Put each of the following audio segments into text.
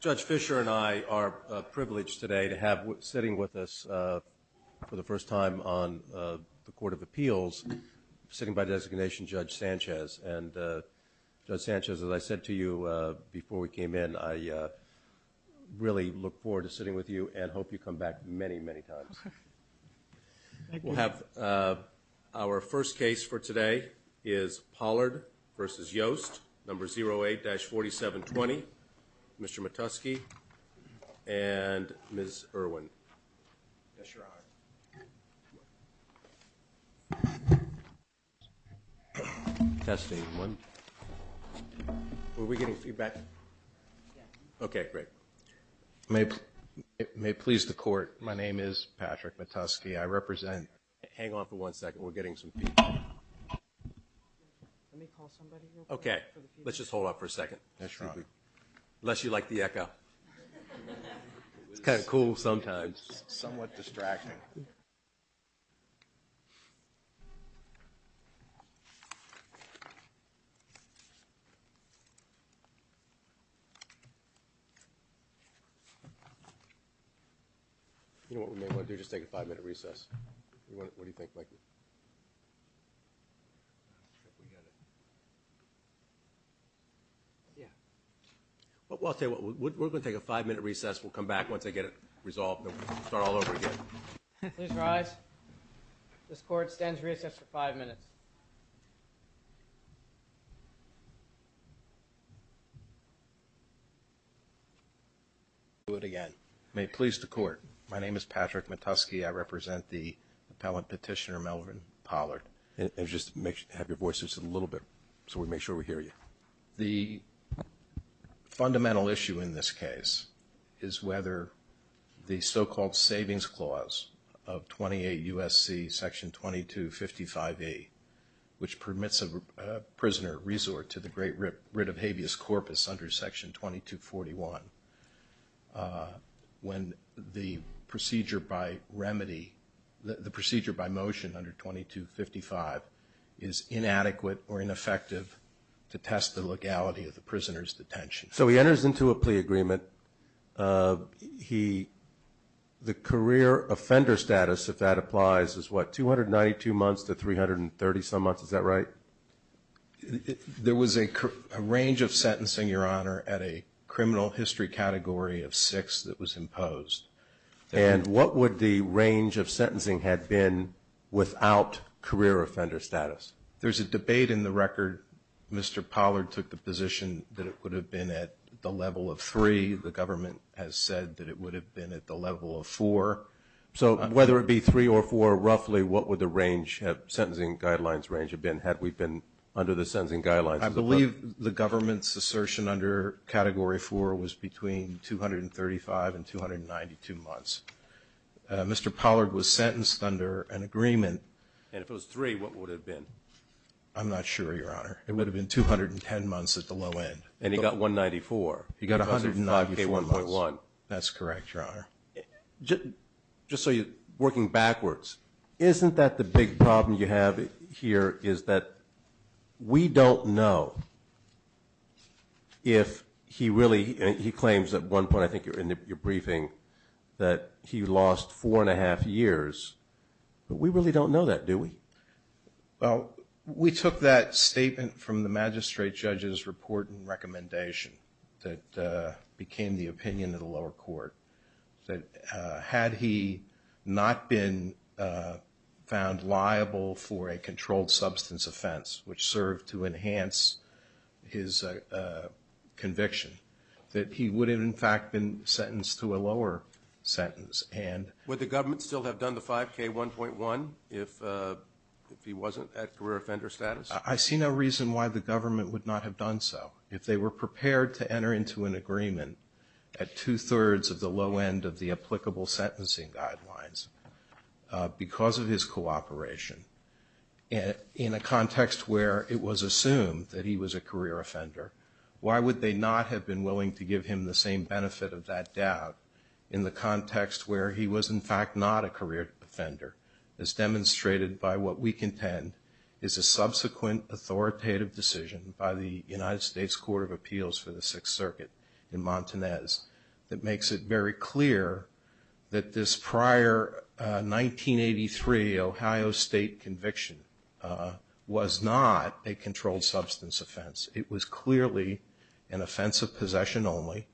Judge Fischer and I are privileged today to have sitting with us for the first time on the Court of Appeals, sitting by designation Judge Sanchez. And Judge Sanchez, as I said to you before we came in, I really look forward to sitting with you and hope you come back many, many times. We'll have our first case for today is Pollard v. Yost, number 08-4720. Mr. Matusky and Ms. Irwin. Yes, Your Honor. Testing one. Were we getting feedback? Yes. Okay, great. May it please the Court, my name is Patrick Matusky. I represent. Hang on for one second. We're getting some feedback. Let me call somebody real quick. Okay. Let's just hold off for a second. Yes, Your Honor. Unless you like the echo. It's kind of cool sometimes. Somewhat distracting. You know what we may want to do? Just take a five-minute recess. What do you think, Mike? Yeah. Well, I'll tell you what. We're going to take a five-minute recess. We'll come back once I get it resolved and start all over again. Please rise. This Court stands recessed for five minutes. Do it again. May it please the Court. My name is Patrick Matusky. I represent the appellant petitioner, Melvin Pollard. Just have your voices a little bit so we make sure we hear you. The fundamental issue in this case is whether the so-called Savings Clause of 28 U.S.C. under Section 2255A, which permits a prisoner resort to the great writ of habeas corpus under Section 2241, when the procedure by motion under 2255 is inadequate or ineffective to test the legality of the prisoner's detention. So he enters into a plea agreement. The career offender status, if that applies, is what, 292 months to 330-some months? Is that right? There was a range of sentencing, Your Honor, at a criminal history category of six that was imposed. And what would the range of sentencing have been without career offender status? There's a debate in the record. Mr. Pollard took the position that it would have been at the level of three. The government has said that it would have been at the level of four. So whether it be three or four, roughly, what would the range of sentencing guidelines range have been, had we been under the sentencing guidelines? I believe the government's assertion under Category 4 was between 235 and 292 months. Mr. Pollard was sentenced under an agreement. And if it was three, what would it have been? I'm not sure, Your Honor. It would have been 210 months at the low end. And he got 194. He got 194 months. That's correct, Your Honor. Just so you're working backwards, isn't that the big problem you have here, is that we don't know if he really, and he claims at one point, I think, in your briefing, that he lost four and a half years. But we really don't know that, do we? Well, we took that statement from the magistrate judge's report and recommendation that became the opinion of the lower court, that had he not been found liable for a controlled substance offense, which served to enhance his conviction, that he would have, in fact, been sentenced to a lower sentence. Would the government still have done the 5K1.1 if he wasn't at career offender status? I see no reason why the government would not have done so. If they were prepared to enter into an agreement at two-thirds of the low end of the applicable sentencing guidelines because of his cooperation, in a context where it was assumed that he was a career offender, why would they not have been willing to give him the same benefit of that doubt in the context where he was, in fact, not a career offender, as demonstrated by what we contend is a subsequent authoritative decision by the United States Court of Appeals for the Sixth Circuit in Montanez that makes it very clear that this prior 1983 Ohio State conviction was not a controlled substance offense. It was clearly an offense of possession only.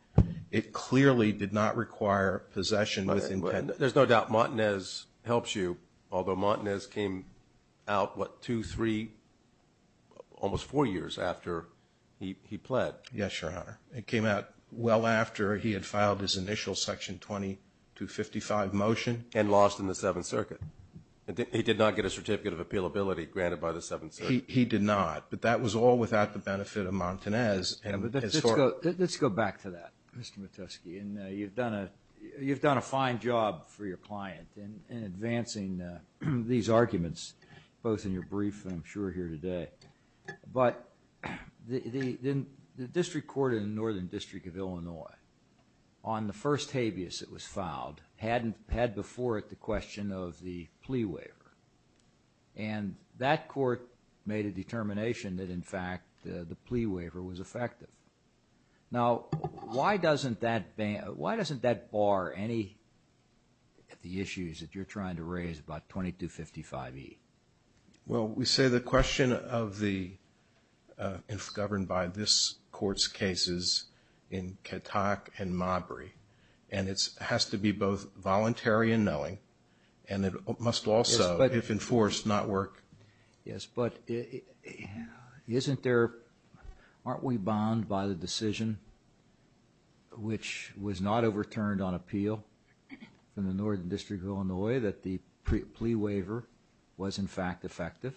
It clearly did not require possession with intent. There's no doubt Montanez helps you, although Montanez came out, what, two, three, almost four years after he pled. Yes, Your Honor. It came out well after he had filed his initial Section 2255 motion. And lost in the Seventh Circuit. He did not. But that was all without the benefit of Montanez. Let's go back to that, Mr. Matusky. You've done a fine job for your client in advancing these arguments, both in your brief and I'm sure here today. But the district court in the Northern District of Illinois, on the first habeas that was filed, had before it the question of the plea waiver. And that court made a determination that, in fact, the plea waiver was effective. Now, why doesn't that bar any of the issues that you're trying to raise about 2255E? Well, we say the question of the, if governed by this court's cases, in Katak and Mabry, and it has to be both voluntary and knowing, and it must also, if enforced, not work. Yes, but isn't there, aren't we bound by the decision, which was not overturned on appeal in the Northern District of Illinois, that the plea waiver was, in fact, effective?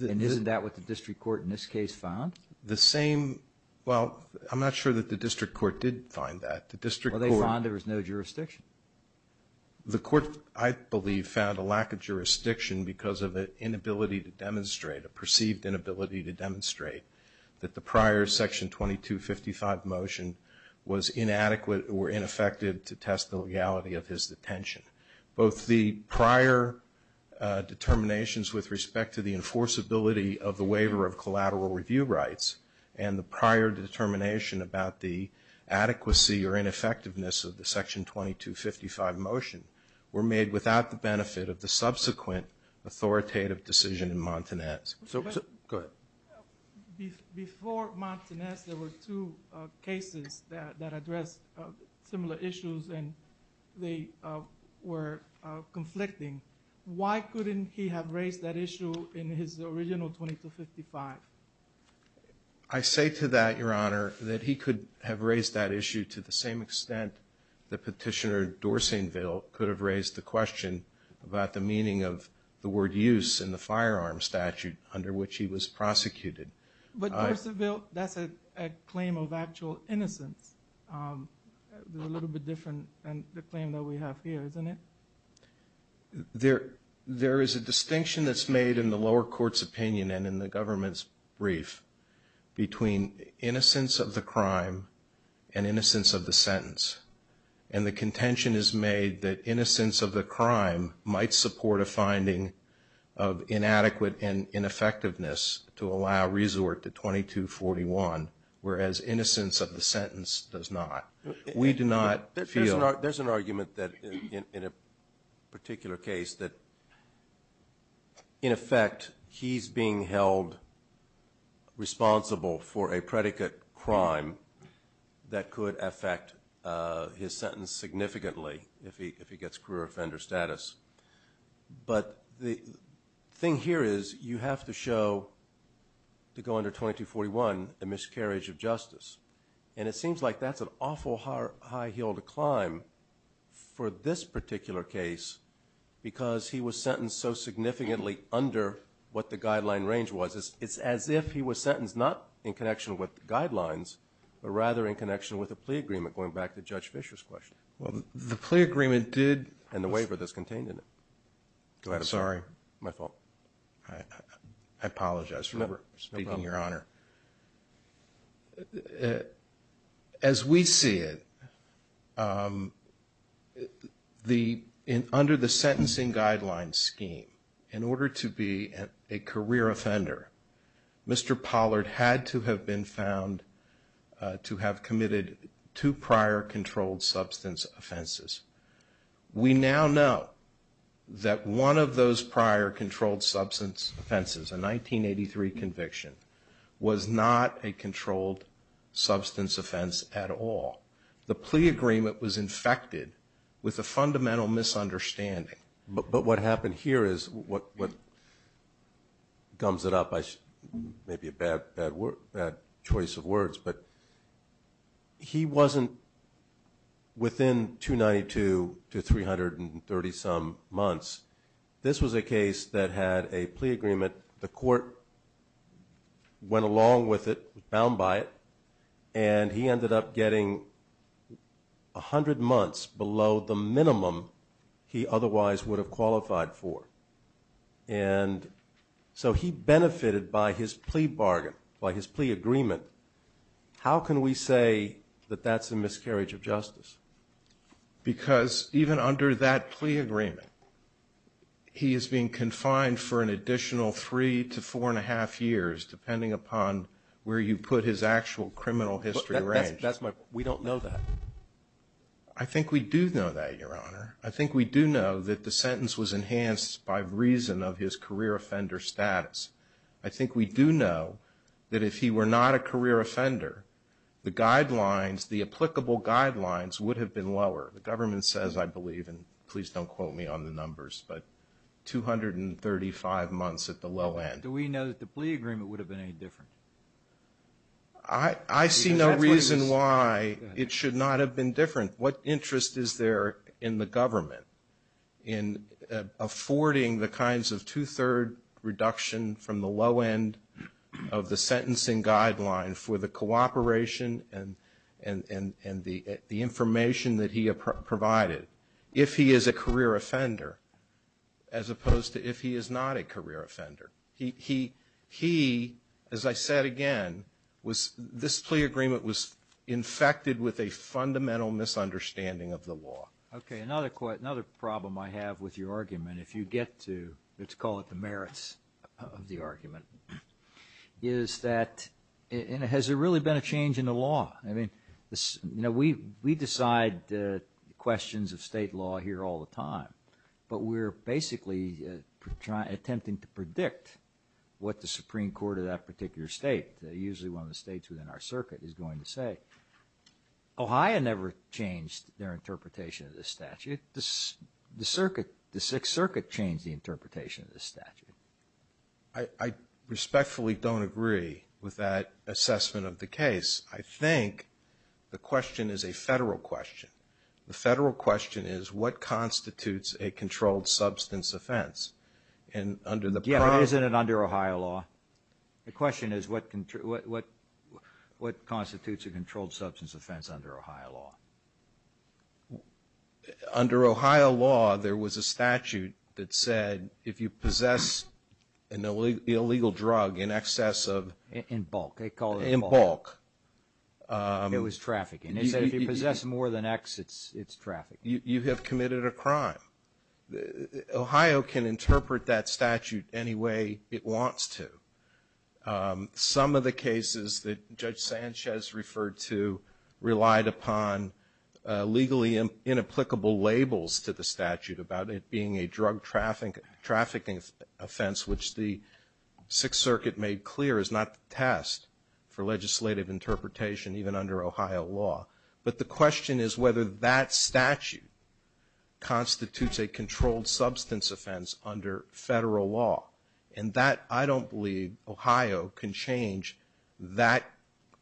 And isn't that what the district court in this case found? The same, well, I'm not sure that the district court did find that. Well, they found there was no jurisdiction. The court, I believe, found a lack of jurisdiction because of an inability to demonstrate, a perceived inability to demonstrate, that the prior Section 2255 motion was inadequate or ineffective to test the legality of his detention. Both the prior determinations with respect to the enforceability of the waiver of collateral review rights and the prior determination about the adequacy or ineffectiveness of the Section 2255 motion were made without the benefit of the subsequent authoritative decision in Montanez. Go ahead. Before Montanez, there were two cases that addressed similar issues, and they were conflicting. Why couldn't he have raised that issue in his original 2255? I say to that, Your Honor, that he could have raised that issue to the same extent that Petitioner Dorsainville could have raised the question about the meaning of the word use in the firearm statute under which he was prosecuted. But, Dorsainville, that's a claim of actual innocence. A little bit different than the claim that we have here, isn't it? There is a distinction that's made in the lower court's opinion and in the government's brief between innocence of the crime and innocence of the sentence. And the contention is made that innocence of the crime might support a finding of inadequate and ineffectiveness to allow resort to 2241, whereas innocence of the sentence does not. We do not feel. There's an argument that, in a particular case, that, in effect, he's being held responsible for a predicate crime that could affect his sentence significantly if he gets career offender status. But the thing here is you have to show, to go under 2241, a miscarriage of justice. And it seems like that's an awful high hill to climb for this particular case because he was sentenced so significantly under what the guideline range was. It's as if he was sentenced not in connection with the guidelines but rather in connection with the plea agreement, going back to Judge Fischer's question. Well, the plea agreement did... And the waiver that's contained in it. Sorry. My fault. I apologize for speaking, Your Honor. As we see it, under the sentencing guideline scheme, in order to be a career offender, Mr. Pollard had to have been found to have committed two prior controlled substance offenses. We now know that one of those prior controlled substance offenses, a 1983 conviction, was not a controlled substance offense at all. The plea agreement was infected with a fundamental misunderstanding. But what happened here is what gums it up, maybe a bad choice of words, but he wasn't within 292 to 330-some months. This was a case that had a plea agreement. The court went along with it, bound by it, and he ended up getting 100 months below the minimum he otherwise would have qualified for. And so he benefited by his plea bargain, by his plea agreement. How can we say that that's a miscarriage of justice? Because even under that plea agreement, he is being confined for an additional three to four and a half years, depending upon where you put his actual criminal history range. We don't know that. I think we do know that, Your Honor. I think we do know that the sentence was enhanced by reason of his career offender status. I think we do know that if he were not a career offender, the guidelines, the applicable guidelines would have been lower. The government says, I believe, and please don't quote me on the numbers, but 235 months at the low end. Do we know that the plea agreement would have been any different? I see no reason why it should not have been different. What interest is there in the government in affording the kinds of two-third reduction from the low end of the sentencing guideline for the cooperation and the information that he provided, if he is a career offender, as opposed to if he is not a career offender? He, as I said again, this plea agreement was infected with a fundamental misunderstanding of the law. Okay, another problem I have with your argument, if you get to, let's call it the merits of the argument, is that, has there really been a change in the law? I mean, we decide questions of state law here all the time, but we're basically attempting to predict what the Supreme Court of that particular state, usually one of the states within our circuit, is going to say. Ohio never changed their interpretation of the statute. The Sixth Circuit changed the interpretation of the statute. I respectfully don't agree with that assessment of the case. I think the question is a federal question. The federal question is, what constitutes a controlled substance offense? Isn't it under Ohio law? The question is, what constitutes a controlled substance offense under Ohio law? Under Ohio law, there was a statute that said, if you possess an illegal drug in excess of... In bulk. In bulk. It was trafficking. If you possess more than X, it's trafficking. You have committed a crime. Ohio can interpret that statute any way it wants to. Some of the cases that Judge Sanchez referred to relied upon legally inapplicable labels to the statute about it being a drug trafficking offense, which the Sixth Circuit made clear is not the test for legislative interpretation, even under Ohio law. But the question is whether that statute constitutes a controlled substance offense under federal law. And that, I don't believe, Ohio can change that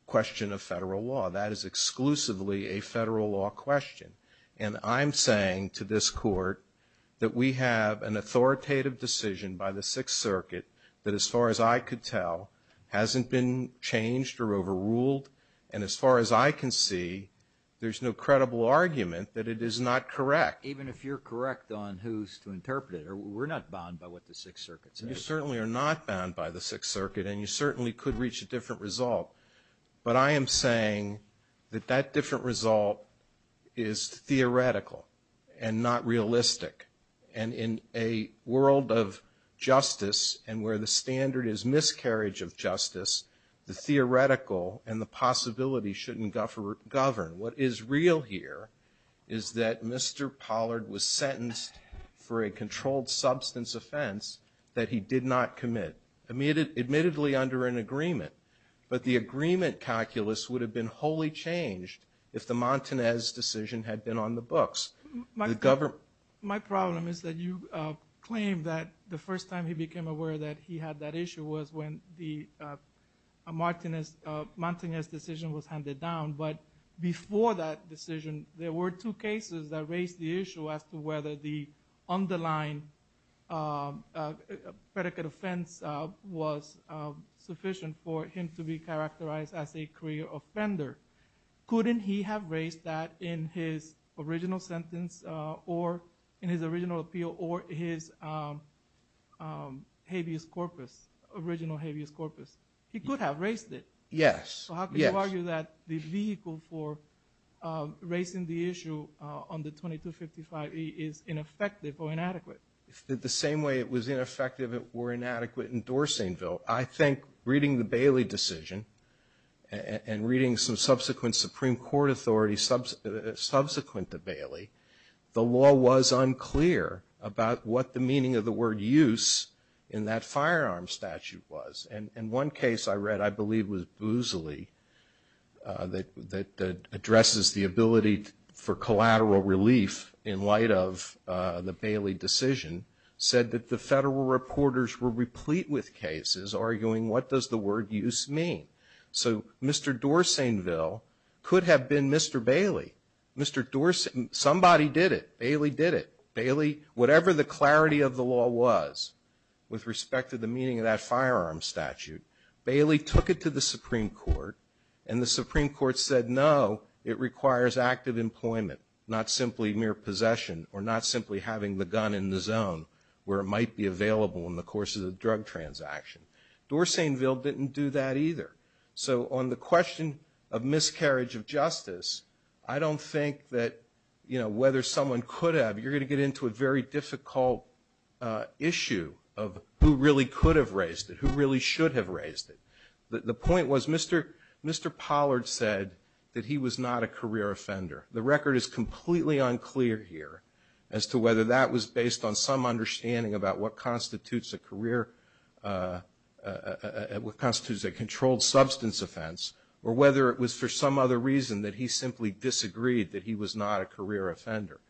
question of federal law. That is exclusively a federal law question. And I'm saying to this Court that we have an authoritative decision by the Sixth Circuit that, as far as I could tell, hasn't been changed or overruled. And as far as I can see, there's no credible argument that it is not correct. Even if you're correct on who's to interpret it? We're not bound by what the Sixth Circuit says. You certainly are not bound by the Sixth Circuit, and you certainly could reach a different result. But I am saying that that different result is theoretical and not realistic. And in a world of justice and where the standard is miscarriage of justice, the theoretical and the possibility shouldn't govern. What is real here is that Mr. Pollard was sentenced for a controlled substance offense that he did not commit, admittedly under an agreement. But the agreement calculus would have been wholly changed if the Montanez decision had been on the books. My problem is that you claim that the first time he became aware that he had that issue was when the Montanez decision was handed down. But before that decision, there were two cases that raised the issue as to whether the underlying predicate offense was sufficient for him to be characterized as a career offender. Couldn't he have raised that in his original sentence or in his original appeal or his habeas corpus, original habeas corpus? He could have raised it. So how can you argue that the vehicle for raising the issue on the 2255E is ineffective or inadequate? The same way it was ineffective, it were inadequate in Dorsainville. I think reading the Bailey decision and reading some subsequent Supreme Court authorities subsequent to Bailey, the law was unclear about what the meaning of the word use in that firearm statute was. And one case I read I believe was Boozley that addresses the ability for collateral relief in light of the Bailey decision, said that the federal reporters were replete with cases arguing what does the word use mean. So Mr. Dorsainville could have been Mr. Bailey. Somebody did it. Bailey did it. Bailey, whatever the clarity of the law was with respect to the meaning of that firearm statute, Bailey took it to the Supreme Court and the Supreme Court said, no, it requires active employment, not simply mere possession or not simply having the gun in the zone where it might be available in the course of the drug transaction. Dorsainville didn't do that either. So on the question of miscarriage of justice, I don't think that whether someone could have, you're going to get into a very difficult issue of who really could have raised it, who really should have raised it. The point was Mr. Pollard said that he was not a career offender. The record is completely unclear here as to whether that was based on some understanding about what constitutes a controlled substance offense or whether it was for some other reason that he simply disagreed that he was not a career offender.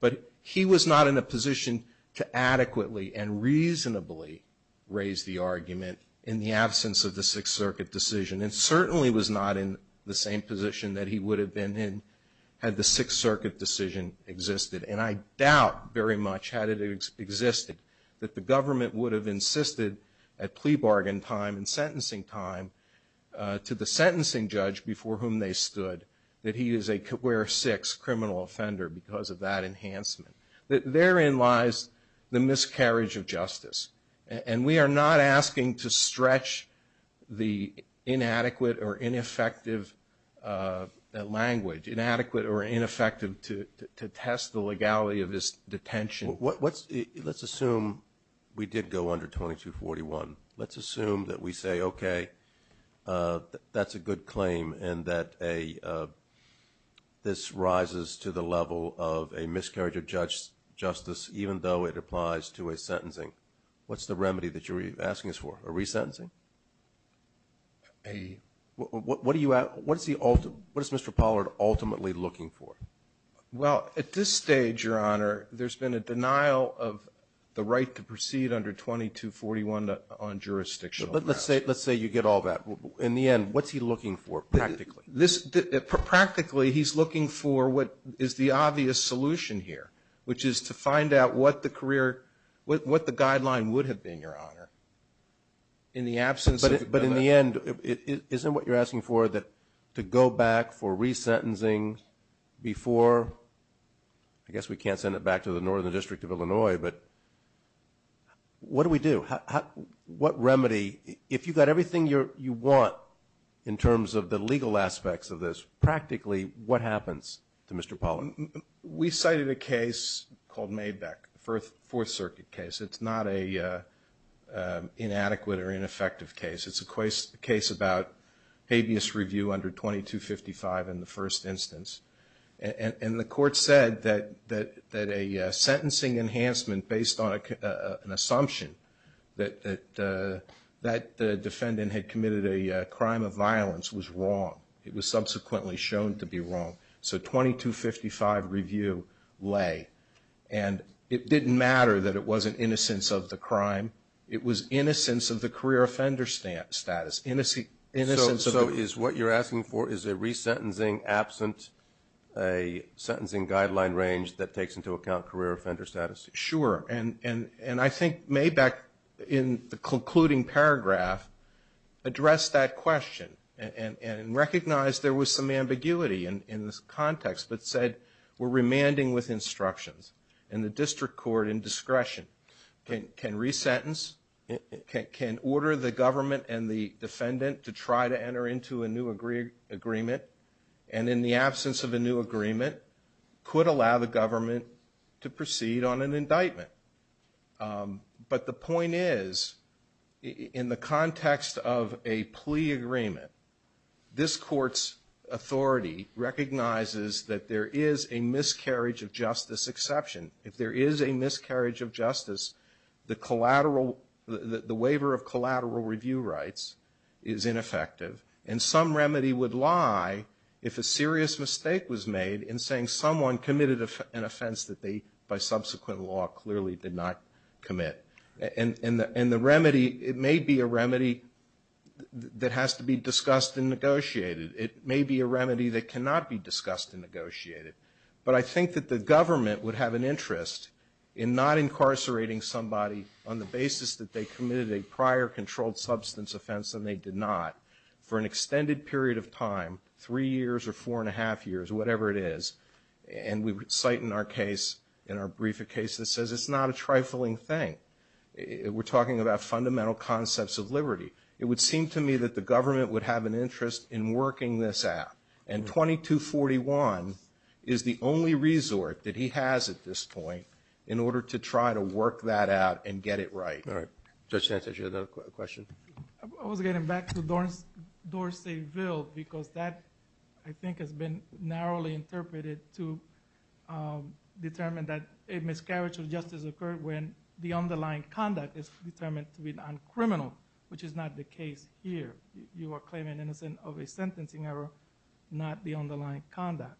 But he was not in a position to adequately and reasonably raise the argument in the absence of the Sixth Circuit decision and certainly was not in the same position that he would have been had the Sixth Circuit decision existed. And I doubt very much had it existed that the government would have insisted at plea bargain time and sentencing time to the sentencing judge before whom they stood that he is a career six criminal offender because of that enhancement. Therein lies the miscarriage of justice. And we are not asking to stretch the inadequate or ineffective language, inadequate or ineffective, to test the legality of this detention. Let's assume we did go under 2241. Let's assume that we say, okay, that's a good claim and that this rises to the level of a miscarriage of justice even though it applies to a sentencing. What's the remedy that you're asking us for? A resentencing? What is Mr. Pollard ultimately looking for? Well, at this stage, Your Honor, there's been a denial of the right to proceed under 2241 on jurisdictional grounds. Let's say you get all that. In the end, what's he looking for practically? Practically, he's looking for what is the obvious solution here, which is to find out what the guideline would have been, Your Honor. But in the end, isn't what you're asking for to go back for resentencing before? I guess we can't send it back to the Northern District of Illinois, but what do we do? What remedy? If you've got everything you want in terms of the legal aspects of this, practically what happens to Mr. Pollard? We cited a case called Maybeck, a Fourth Circuit case. It's not an inadequate or ineffective case. It's a case about habeas review under 2255 in the first instance. And the court said that a sentencing enhancement based on an assumption that the defendant had committed a crime of violence was wrong. It was subsequently shown to be wrong. So 2255 review lay. And it didn't matter that it wasn't innocence of the crime. It was innocence of the career offender status. So what you're asking for is a resentencing absent a sentencing guideline range that takes into account career offender status? Sure. And I think Maybeck, in the concluding paragraph, addressed that question and recognized there was some ambiguity in this context, but said we're remanding with instructions. And the district court, in discretion, can resentence, can order the government and the defendant to try to enter into a new agreement, and in the absence of a new agreement, could allow the government to proceed on an indictment. But the point is, in the context of a plea agreement, this court's authority recognizes that there is a miscarriage of justice exception. If there is a miscarriage of justice, the collateral, the waiver of collateral review rights is ineffective, and some remedy would lie if a serious mistake was made in saying someone committed an offense that they, by subsequent law, clearly did not commit. And the remedy, it may be a remedy that has to be discussed and negotiated. But I think that the government would have an interest in not incarcerating somebody on the basis that they committed a prior controlled substance offense and they did not, for an extended period of time, three years or four and a half years, whatever it is. And we cite in our brief a case that says it's not a trifling thing. We're talking about fundamental concepts of liberty. It would seem to me that the government would have an interest in working this out. And 2241 is the only resort that he has at this point in order to try to work that out and get it right. All right. Judge Sanchez, you had another question? I was getting back to Dorseyville because that, I think, has been narrowly interpreted to determine that a miscarriage of justice occurred when the underlying conduct is determined to be non-criminal, which is not the case here. You are claiming innocence of a sentencing error, not the underlying conduct.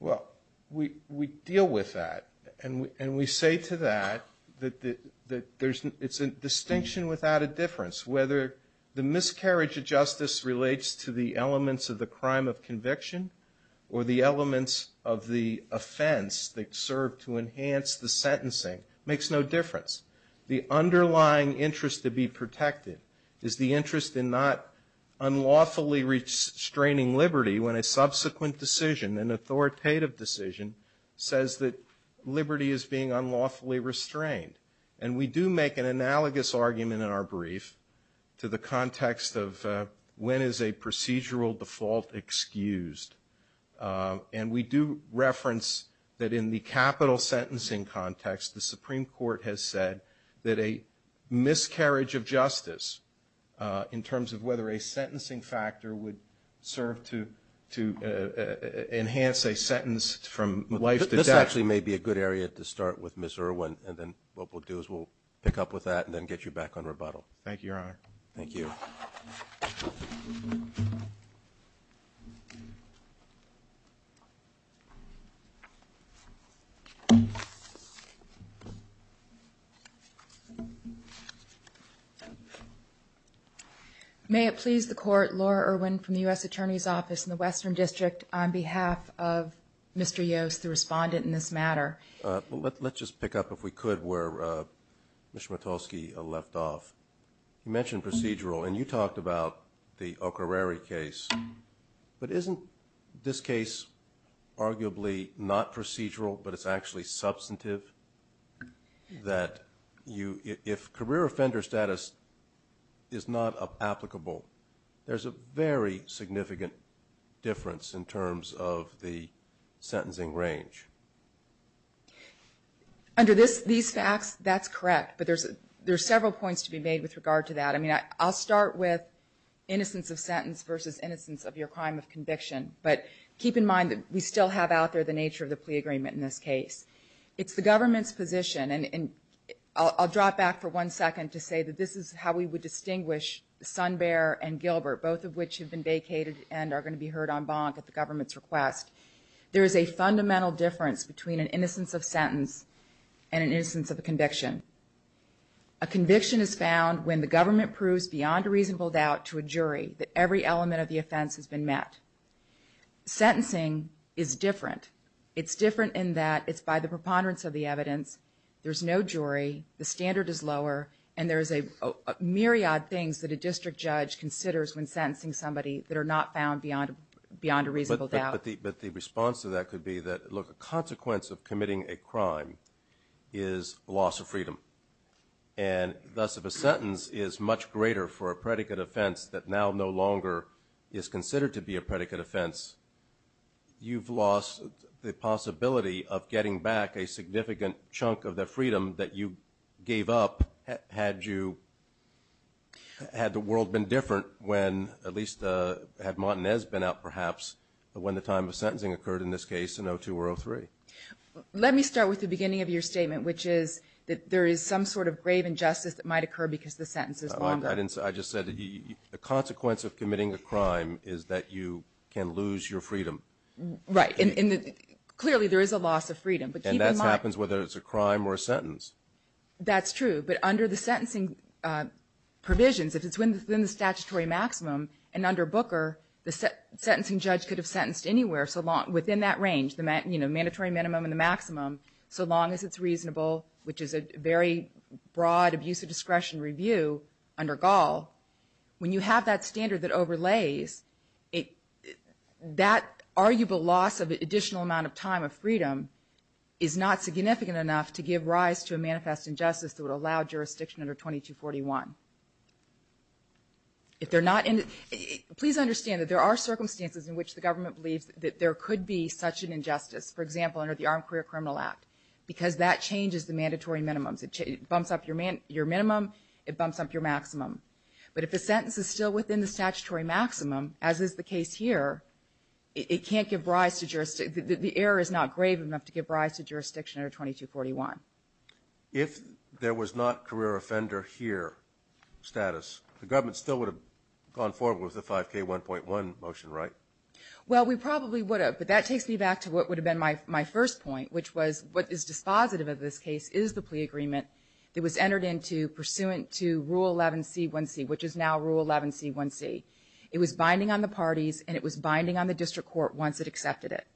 Well, we deal with that. And we say to that that it's a distinction without a difference. Whether the miscarriage of justice relates to the elements of the crime of conviction or the elements of the offense that serve to enhance the sentencing makes no difference. The underlying interest to be protected is the interest in not unlawfully restraining liberty when a subsequent decision, an authoritative decision, says that liberty is being unlawfully restrained. And we do make an analogous argument in our brief to the context of when is a procedural default excused. And we do reference that in the capital sentencing context, the Supreme Court has said that a miscarriage of justice in terms of whether a sentencing factor would serve to enhance a sentence from life to death. This actually may be a good area to start with, Ms. Irwin. And then what we'll do is we'll pick up with that and then get you back on rebuttal. Thank you, Your Honor. Thank you. Thank you. May it please the Court, Laura Irwin from the U.S. Attorney's Office in the Western District on behalf of Mr. Yost, the respondent in this matter. Let's just pick up, if we could, where Ms. Schmitalski left off. You mentioned procedural, and you talked about the O'Kareri case. But isn't this case arguably not procedural, but it's actually substantive, that if career offender status is not applicable, there's a very significant difference in terms of the sentencing range? Under these facts, that's correct, but there's several points to be made with regard to that. I mean, I'll start with innocence of sentence versus innocence of your crime of conviction. But keep in mind that we still have out there the nature of the plea agreement in this case. It's the government's position, and I'll drop back for one second to say that this is how we would distinguish Sunbear and Gilbert, both of which have been vacated and are going to be heard en banc at the government's request. There is a fundamental difference between an innocence of sentence and an innocence of a conviction. A conviction is found when the government proves beyond a reasonable doubt to a jury that every element of the offense has been met. Sentencing is different. It's different in that it's by the preponderance of the evidence. There's no jury. The standard is lower, and there's a myriad of things that a district judge considers when sentencing somebody that are not found beyond a reasonable doubt. But the response to that could be that, look, a consequence of committing a crime is loss of freedom. And thus, if a sentence is much greater for a predicate offense that now no longer is considered to be a predicate offense, you've lost the possibility of getting back a significant chunk of the freedom that you gave up Had the world been different when, at least had Montanez been out perhaps, when the time of sentencing occurred in this case in 2002 or 2003? Let me start with the beginning of your statement, which is that there is some sort of grave injustice that might occur because the sentence is longer. I just said the consequence of committing a crime is that you can lose your freedom. Right. Clearly, there is a loss of freedom. And that happens whether it's a crime or a sentence. That's true. But under the sentencing provisions, if it's within the statutory maximum, and under Booker, the sentencing judge could have sentenced anywhere within that range, the mandatory minimum and the maximum, so long as it's reasonable, which is a very broad abuse of discretion review under Gall. When you have that standard that overlays, that arguable loss of additional amount of time of freedom is not significant enough to give rise to a manifest injustice that would allow jurisdiction under 2241. If they're not in it, please understand that there are circumstances in which the government believes that there could be such an injustice, for example, under the Armed Career Criminal Act, because that changes the mandatory minimums. It bumps up your minimum. It bumps up your maximum. But if a sentence is still within the statutory maximum, as is the case here, it can't give rise to jurisdiction. The error is not grave enough to give rise to jurisdiction under 2241. If there was not career offender here status, the government still would have gone forward with the 5K1.1 motion, right? Well, we probably would have. But that takes me back to what would have been my first point, which was what is dispositive of this case is the plea agreement that was entered into pursuant to Rule 11C1C, which is now Rule 11C1C. It was binding on the parties, and it was binding on the district court once it accepted it.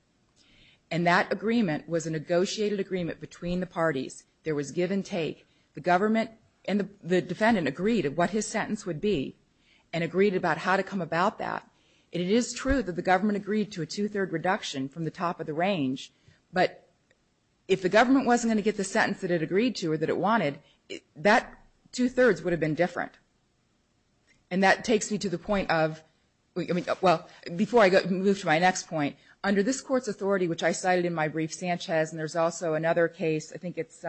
And that agreement was a negotiated agreement between the parties. There was give and take. The government and the defendant agreed of what his sentence would be and agreed about how to come about that. And it is true that the government agreed to a two-third reduction from the top of the range. But if the government wasn't going to get the sentence that it agreed to or that it wanted, that two-thirds would have been different. And that takes me to the point of, well, before I move to my next point, under this court's authority, which I cited in my brief, Sanchez, and there's also another case, I think it's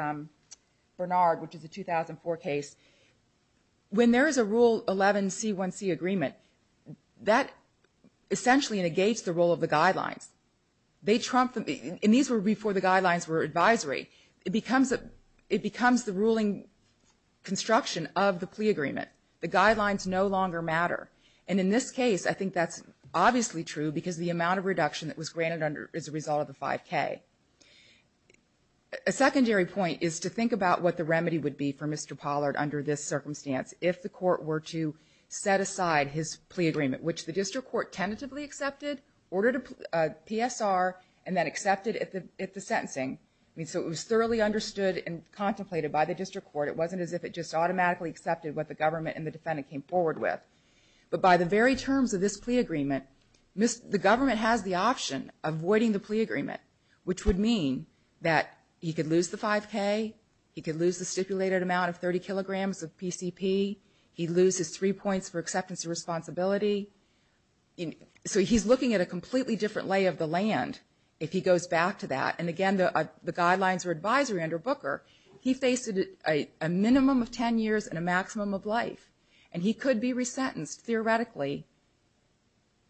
Bernard, which is a 2004 case, when there is a Rule 11C1C agreement, that essentially negates the role of the guidelines. And these were before the guidelines were advisory. It becomes the ruling construction of the plea agreement. The guidelines no longer matter. And in this case, I think that's obviously true because of the amount of reduction that was granted as a result of the 5K. A secondary point is to think about what the remedy would be for Mr. Pollard under this circumstance if the court were to set aside his plea agreement, which the district court tentatively accepted, ordered a PSR, and then accepted it at the sentencing. I mean, so it was thoroughly understood and contemplated by the district court. It wasn't as if it just automatically accepted what the government and the defendant came forward with. But by the very terms of this plea agreement, the government has the option of voiding the plea agreement, which would mean that he could lose the 5K, he could lose the stipulated amount of 30 kilograms of PCP, he'd lose his three points for acceptance and responsibility. So he's looking at a completely different lay of the land if he goes back to that. And again, the guidelines were advisory under Booker. He faced a minimum of 10 years and a maximum of life. And he could be resentenced, theoretically,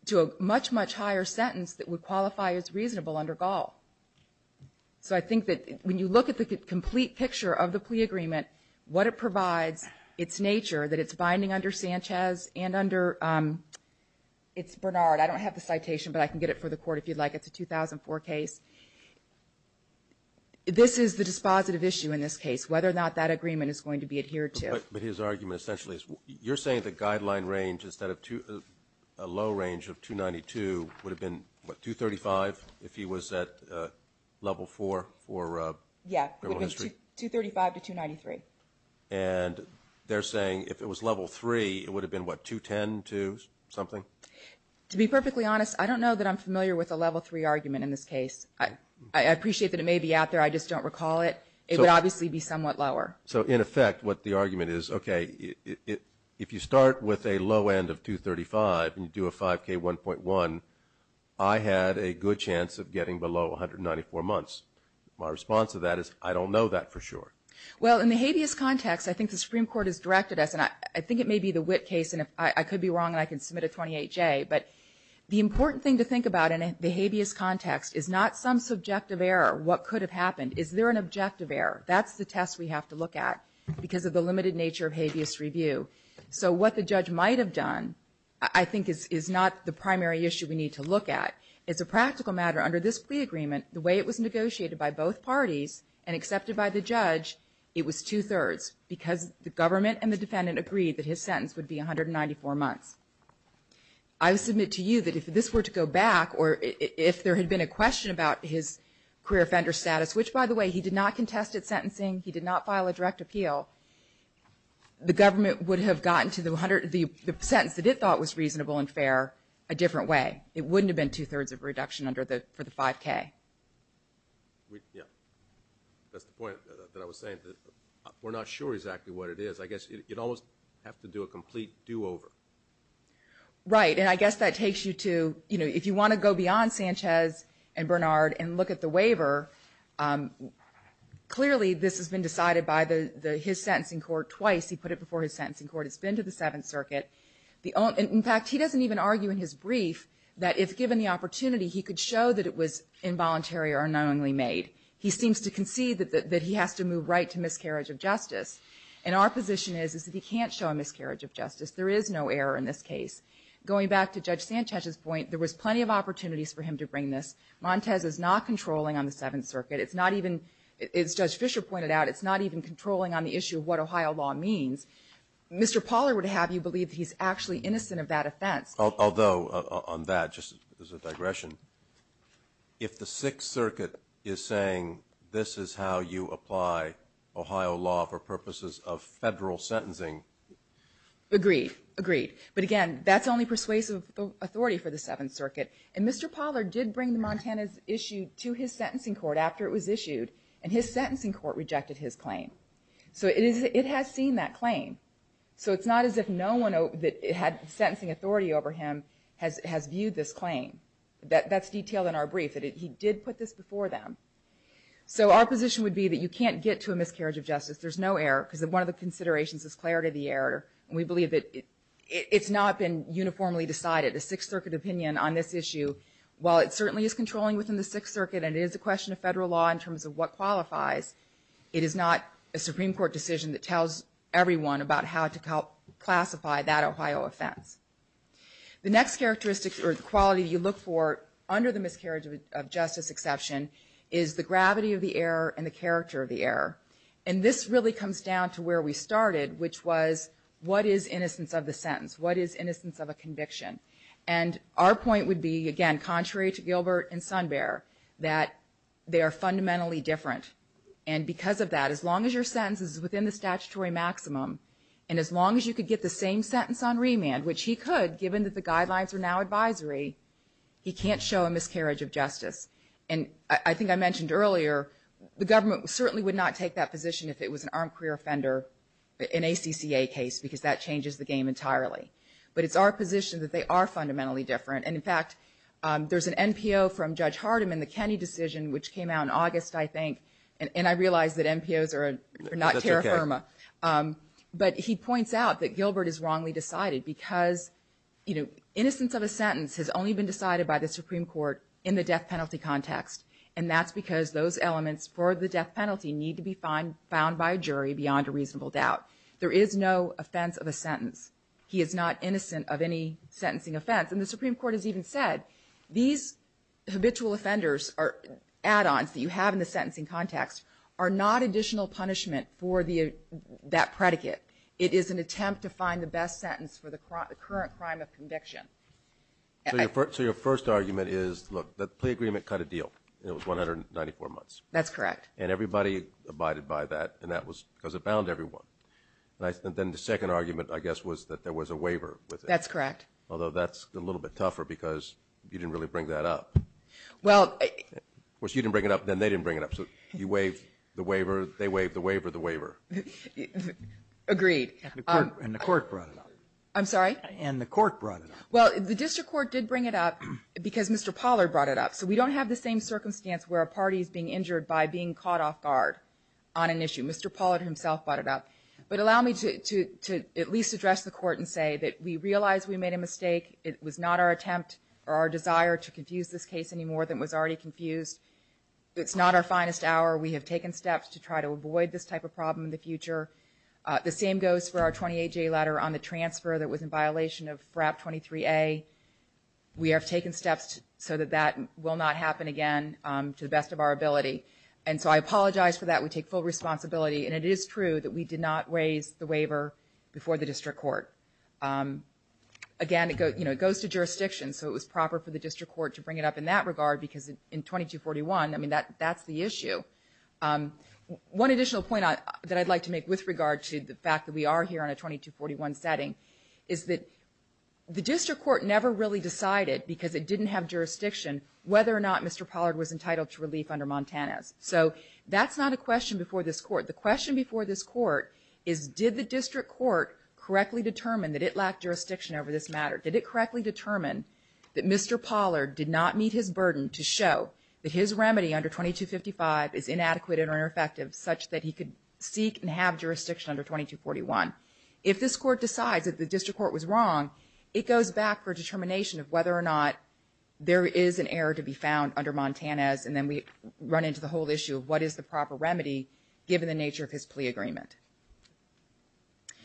to a much, much higher sentence that would qualify as reasonable under Gall. So I think that when you look at the complete picture of the plea agreement, what it provides, its nature, that it's binding under Sanchez and under Bernard. I don't have the citation, but I can get it for the court if you'd like. It's a 2004 case. This is the dispositive issue in this case, whether or not that agreement is going to be adhered to. But his argument essentially is you're saying the guideline range instead of a low range of 292 would have been, what, 235 if he was at level 4 for criminal history? Yeah, it would have been 235 to 293. And they're saying if it was level 3, it would have been, what, 210 to something? To be perfectly honest, I don't know that I'm familiar with a level 3 argument in this case. I appreciate that it may be out there. I just don't recall it. It would obviously be somewhat lower. So, in effect, what the argument is, okay, if you start with a low end of 235 and you do a 5K 1.1, I had a good chance of getting below 194 months. My response to that is I don't know that for sure. Well, in the habeas context, I think the Supreme Court has directed us, and I think it may be the Witt case, and I could be wrong and I can submit a 28J, but the important thing to think about in the habeas context is not some subjective error, what could have happened. Is there an objective error? That's the test we have to look at because of the limited nature of habeas review. So what the judge might have done, I think, is not the primary issue we need to look at. It's a practical matter. Under this plea agreement, the way it was negotiated by both parties and accepted by the judge, it was two-thirds because the government and the defendant agreed that his sentence would be 194 months. I submit to you that if this were to go back or if there had been a question about his career offender status, which, by the way, he did not contest at sentencing, he did not file a direct appeal, the government would have gotten to the sentence that it thought was reasonable and fair a different way. It wouldn't have been two-thirds of a reduction for the 5K. Yeah, that's the point that I was saying. We're not sure exactly what it is. I guess you'd almost have to do a complete do-over. Right, and I guess that takes you to, you know, if you want to go beyond Sanchez and Bernard and look at the waiver, clearly this has been decided by his sentencing court twice. He put it before his sentencing court. It's been to the Seventh Circuit. In fact, he doesn't even argue in his brief that if given the opportunity, he could show that it was involuntary or unknowingly made. He seems to concede that he has to move right to miscarriage of justice, and our position is that he can't show a miscarriage of justice. There is no error in this case. Going back to Judge Sanchez's point, there was plenty of opportunities for him to bring this. Montez is not controlling on the Seventh Circuit. It's not even, as Judge Fischer pointed out, it's not even controlling on the issue of what Ohio law means. Mr. Pauler would have you believe that he's actually innocent of that offense. Although, on that, just as a digression, if the Sixth Circuit is saying this is how you apply Ohio law for purposes of federal sentencing. Agreed. Agreed. But again, that's only persuasive authority for the Seventh Circuit. And Mr. Pauler did bring the Montez issue to his sentencing court after it was issued, and his sentencing court rejected his claim. So it has seen that claim. So it's not as if no one that had sentencing authority over him has viewed this claim. That's detailed in our brief. He did put this before them. So our position would be that you can't get to a miscarriage of justice. There's no error, because one of the considerations is clarity of the error, and we believe that it's not been uniformly decided. The Sixth Circuit opinion on this issue, while it certainly is controlling within the Sixth Circuit and it is a question of federal law in terms of what qualifies, it is not a Supreme Court decision that tells everyone about how to classify that Ohio offense. The next characteristics or quality you look for under the miscarriage of justice exception is the gravity of the error and the character of the error. And this really comes down to where we started, which was what is innocence of the sentence? What is innocence of a conviction? And our point would be, again, contrary to Gilbert and Sunbearer, that they are fundamentally different. And because of that, as long as your sentence is within the statutory maximum and as long as you could get the same sentence on remand, which he could, given that the guidelines are now advisory, he can't show a miscarriage of justice. And I think I mentioned earlier the government certainly would not take that position if it was an armed career offender in a CCA case, because that changes the game entirely. But it's our position that they are fundamentally different. And, in fact, there's an NPO from Judge Hardiman, the Kenney decision, which came out in August, I think, and I realize that NPOs are not terra firma. But he points out that Gilbert is wrongly decided because, you know, innocence of a sentence has only been decided by the Supreme Court in the death penalty context. And that's because those elements for the death penalty need to be found by a jury beyond a reasonable doubt. There is no offense of a sentence. He is not innocent of any sentencing offense. And the Supreme Court has even said these habitual offenders are add-ons that you have in the sentencing context are not additional punishment for that predicate. It is an attempt to find the best sentence for the current crime of conviction. So your first argument is, look, the plea agreement cut a deal. It was 194 months. That's correct. And everybody abided by that, and that was because it bound everyone. And then the second argument, I guess, was that there was a waiver with it. That's correct. Although that's a little bit tougher because you didn't really bring that up. Well, I — Of course, you didn't bring it up, then they didn't bring it up. So you waive the waiver, they waive the waiver, the waiver. Agreed. And the court brought it up. I'm sorry? And the court brought it up. Well, the district court did bring it up because Mr. Pollard brought it up. So we don't have the same circumstance where a party is being injured by being caught off guard on an issue. Mr. Pollard himself brought it up. But allow me to at least address the court and say that we realize we made a mistake. It was not our attempt or our desire to confuse this case any more than was already confused. It's not our finest hour. We have taken steps to try to avoid this type of problem in the future. The same goes for our 28J letter on the transfer that was in violation of FRAP 23A. We have taken steps so that that will not happen again to the best of our ability. And so I apologize for that. We take full responsibility. And it is true that we did not raise the waiver before the district court. Again, it goes to jurisdiction. So it was proper for the district court to bring it up in that regard because in 2241, I mean, that's the issue. One additional point that I'd like to make with regard to the fact that we are here on a 2241 setting is that the district court never really decided, because it didn't have jurisdiction, whether or not Mr. Pollard was entitled to relief under Montanez. So that's not a question before this court. The question before this court is did the district court correctly determine that it lacked jurisdiction over this matter? Did it correctly determine that Mr. Pollard did not meet his burden to show that his remedy under 2255 is inadequate or ineffective such that he could seek and have jurisdiction under 2241? If this court decides that the district court was wrong, it goes back for determination of whether or not there is an error to be found under Montanez, and then we run into the whole issue of what is the proper remedy given the nature of his plea agreement.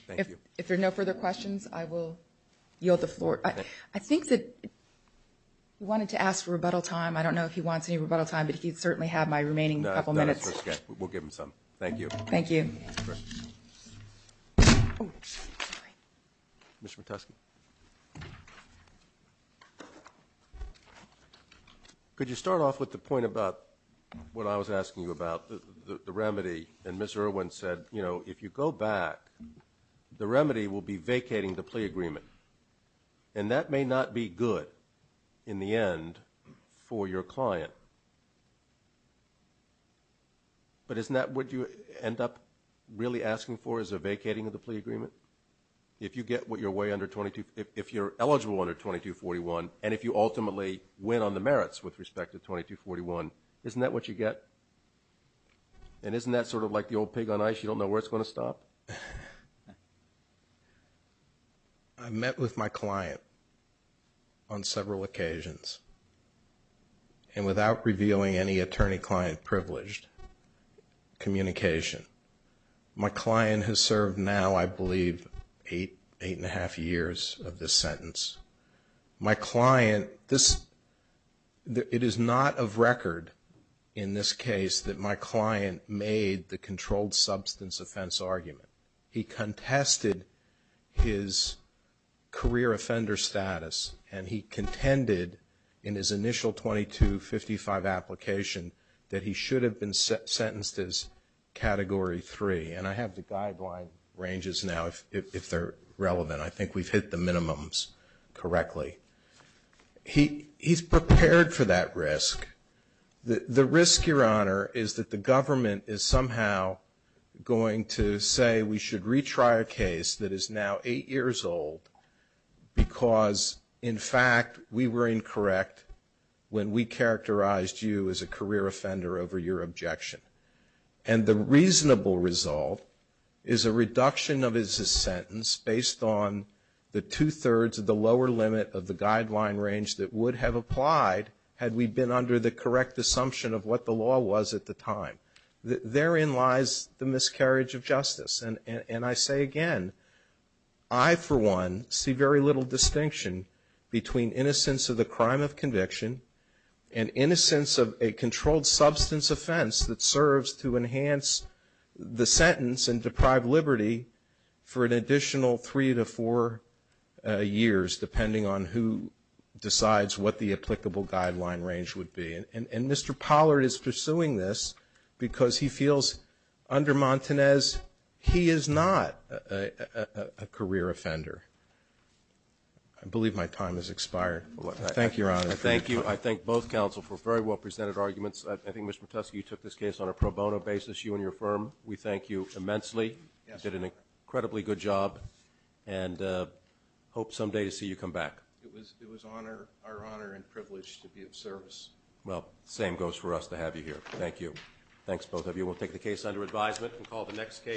Thank you. If there are no further questions, I will yield the floor. I think that he wanted to ask for rebuttal time. I don't know if he wants any rebuttal time, but he'd certainly have my remaining couple minutes. We'll give him some. Thank you. Thank you. Mr. Metusky. Thank you. Could you start off with the point about what I was asking you about, the remedy? And Ms. Irwin said, you know, if you go back, the remedy will be vacating the plea agreement, and that may not be good in the end for your client, but isn't that what you end up really asking for is a vacating of the plea agreement? If you get what you're way under 22, if you're eligible under 2241, and if you ultimately win on the merits with respect to 2241, isn't that what you get? And isn't that sort of like the old pig on ice, you don't know where it's going to stop? I met with my client on several occasions, and without revealing any attorney-client privileged communication, my client has served now, I believe, eight, eight-and-a-half years of this sentence. My client, it is not of record in this case that my client made the controlled substance offense argument. He contested his career offender status, and he contended in his initial 2255 application that he should have been sentenced as category three, and I have the guideline ranges now if they're relevant. I think we've hit the minimums correctly. He's prepared for that risk. The risk, Your Honor, is that the government is somehow going to say we should retry a case that is now eight years old, because, in fact, we were incorrect when we characterized you as a career offender over your objection, and the reasonable result is a reduction of his sentence based on the two-thirds of the lower limit of the guideline range that would have applied had we been under the correct assumption of what the law was at the time. Therein lies the miscarriage of justice, and I say again, I, for one, see very little distinction between innocence of the crime of conviction and innocence of a controlled substance offense that serves to enhance the sentence and deprive liberty for an additional three to four years, depending on who decides what the applicable guideline range would be. And Mr. Pollard is pursuing this because he feels, under Montanez, he is not a career offender. I believe my time has expired. Thank you, Your Honor. Thank you. I thank both counsel for very well-presented arguments. I think, Mr. Piotrowski, you took this case on a pro bono basis, you and your firm. We thank you immensely. You did an incredibly good job and hope someday to see you come back. It was our honor and privilege to be of service. Well, same goes for us to have you here. Thank you. Thanks, both of you. We'll take the case under advisement and call the next case.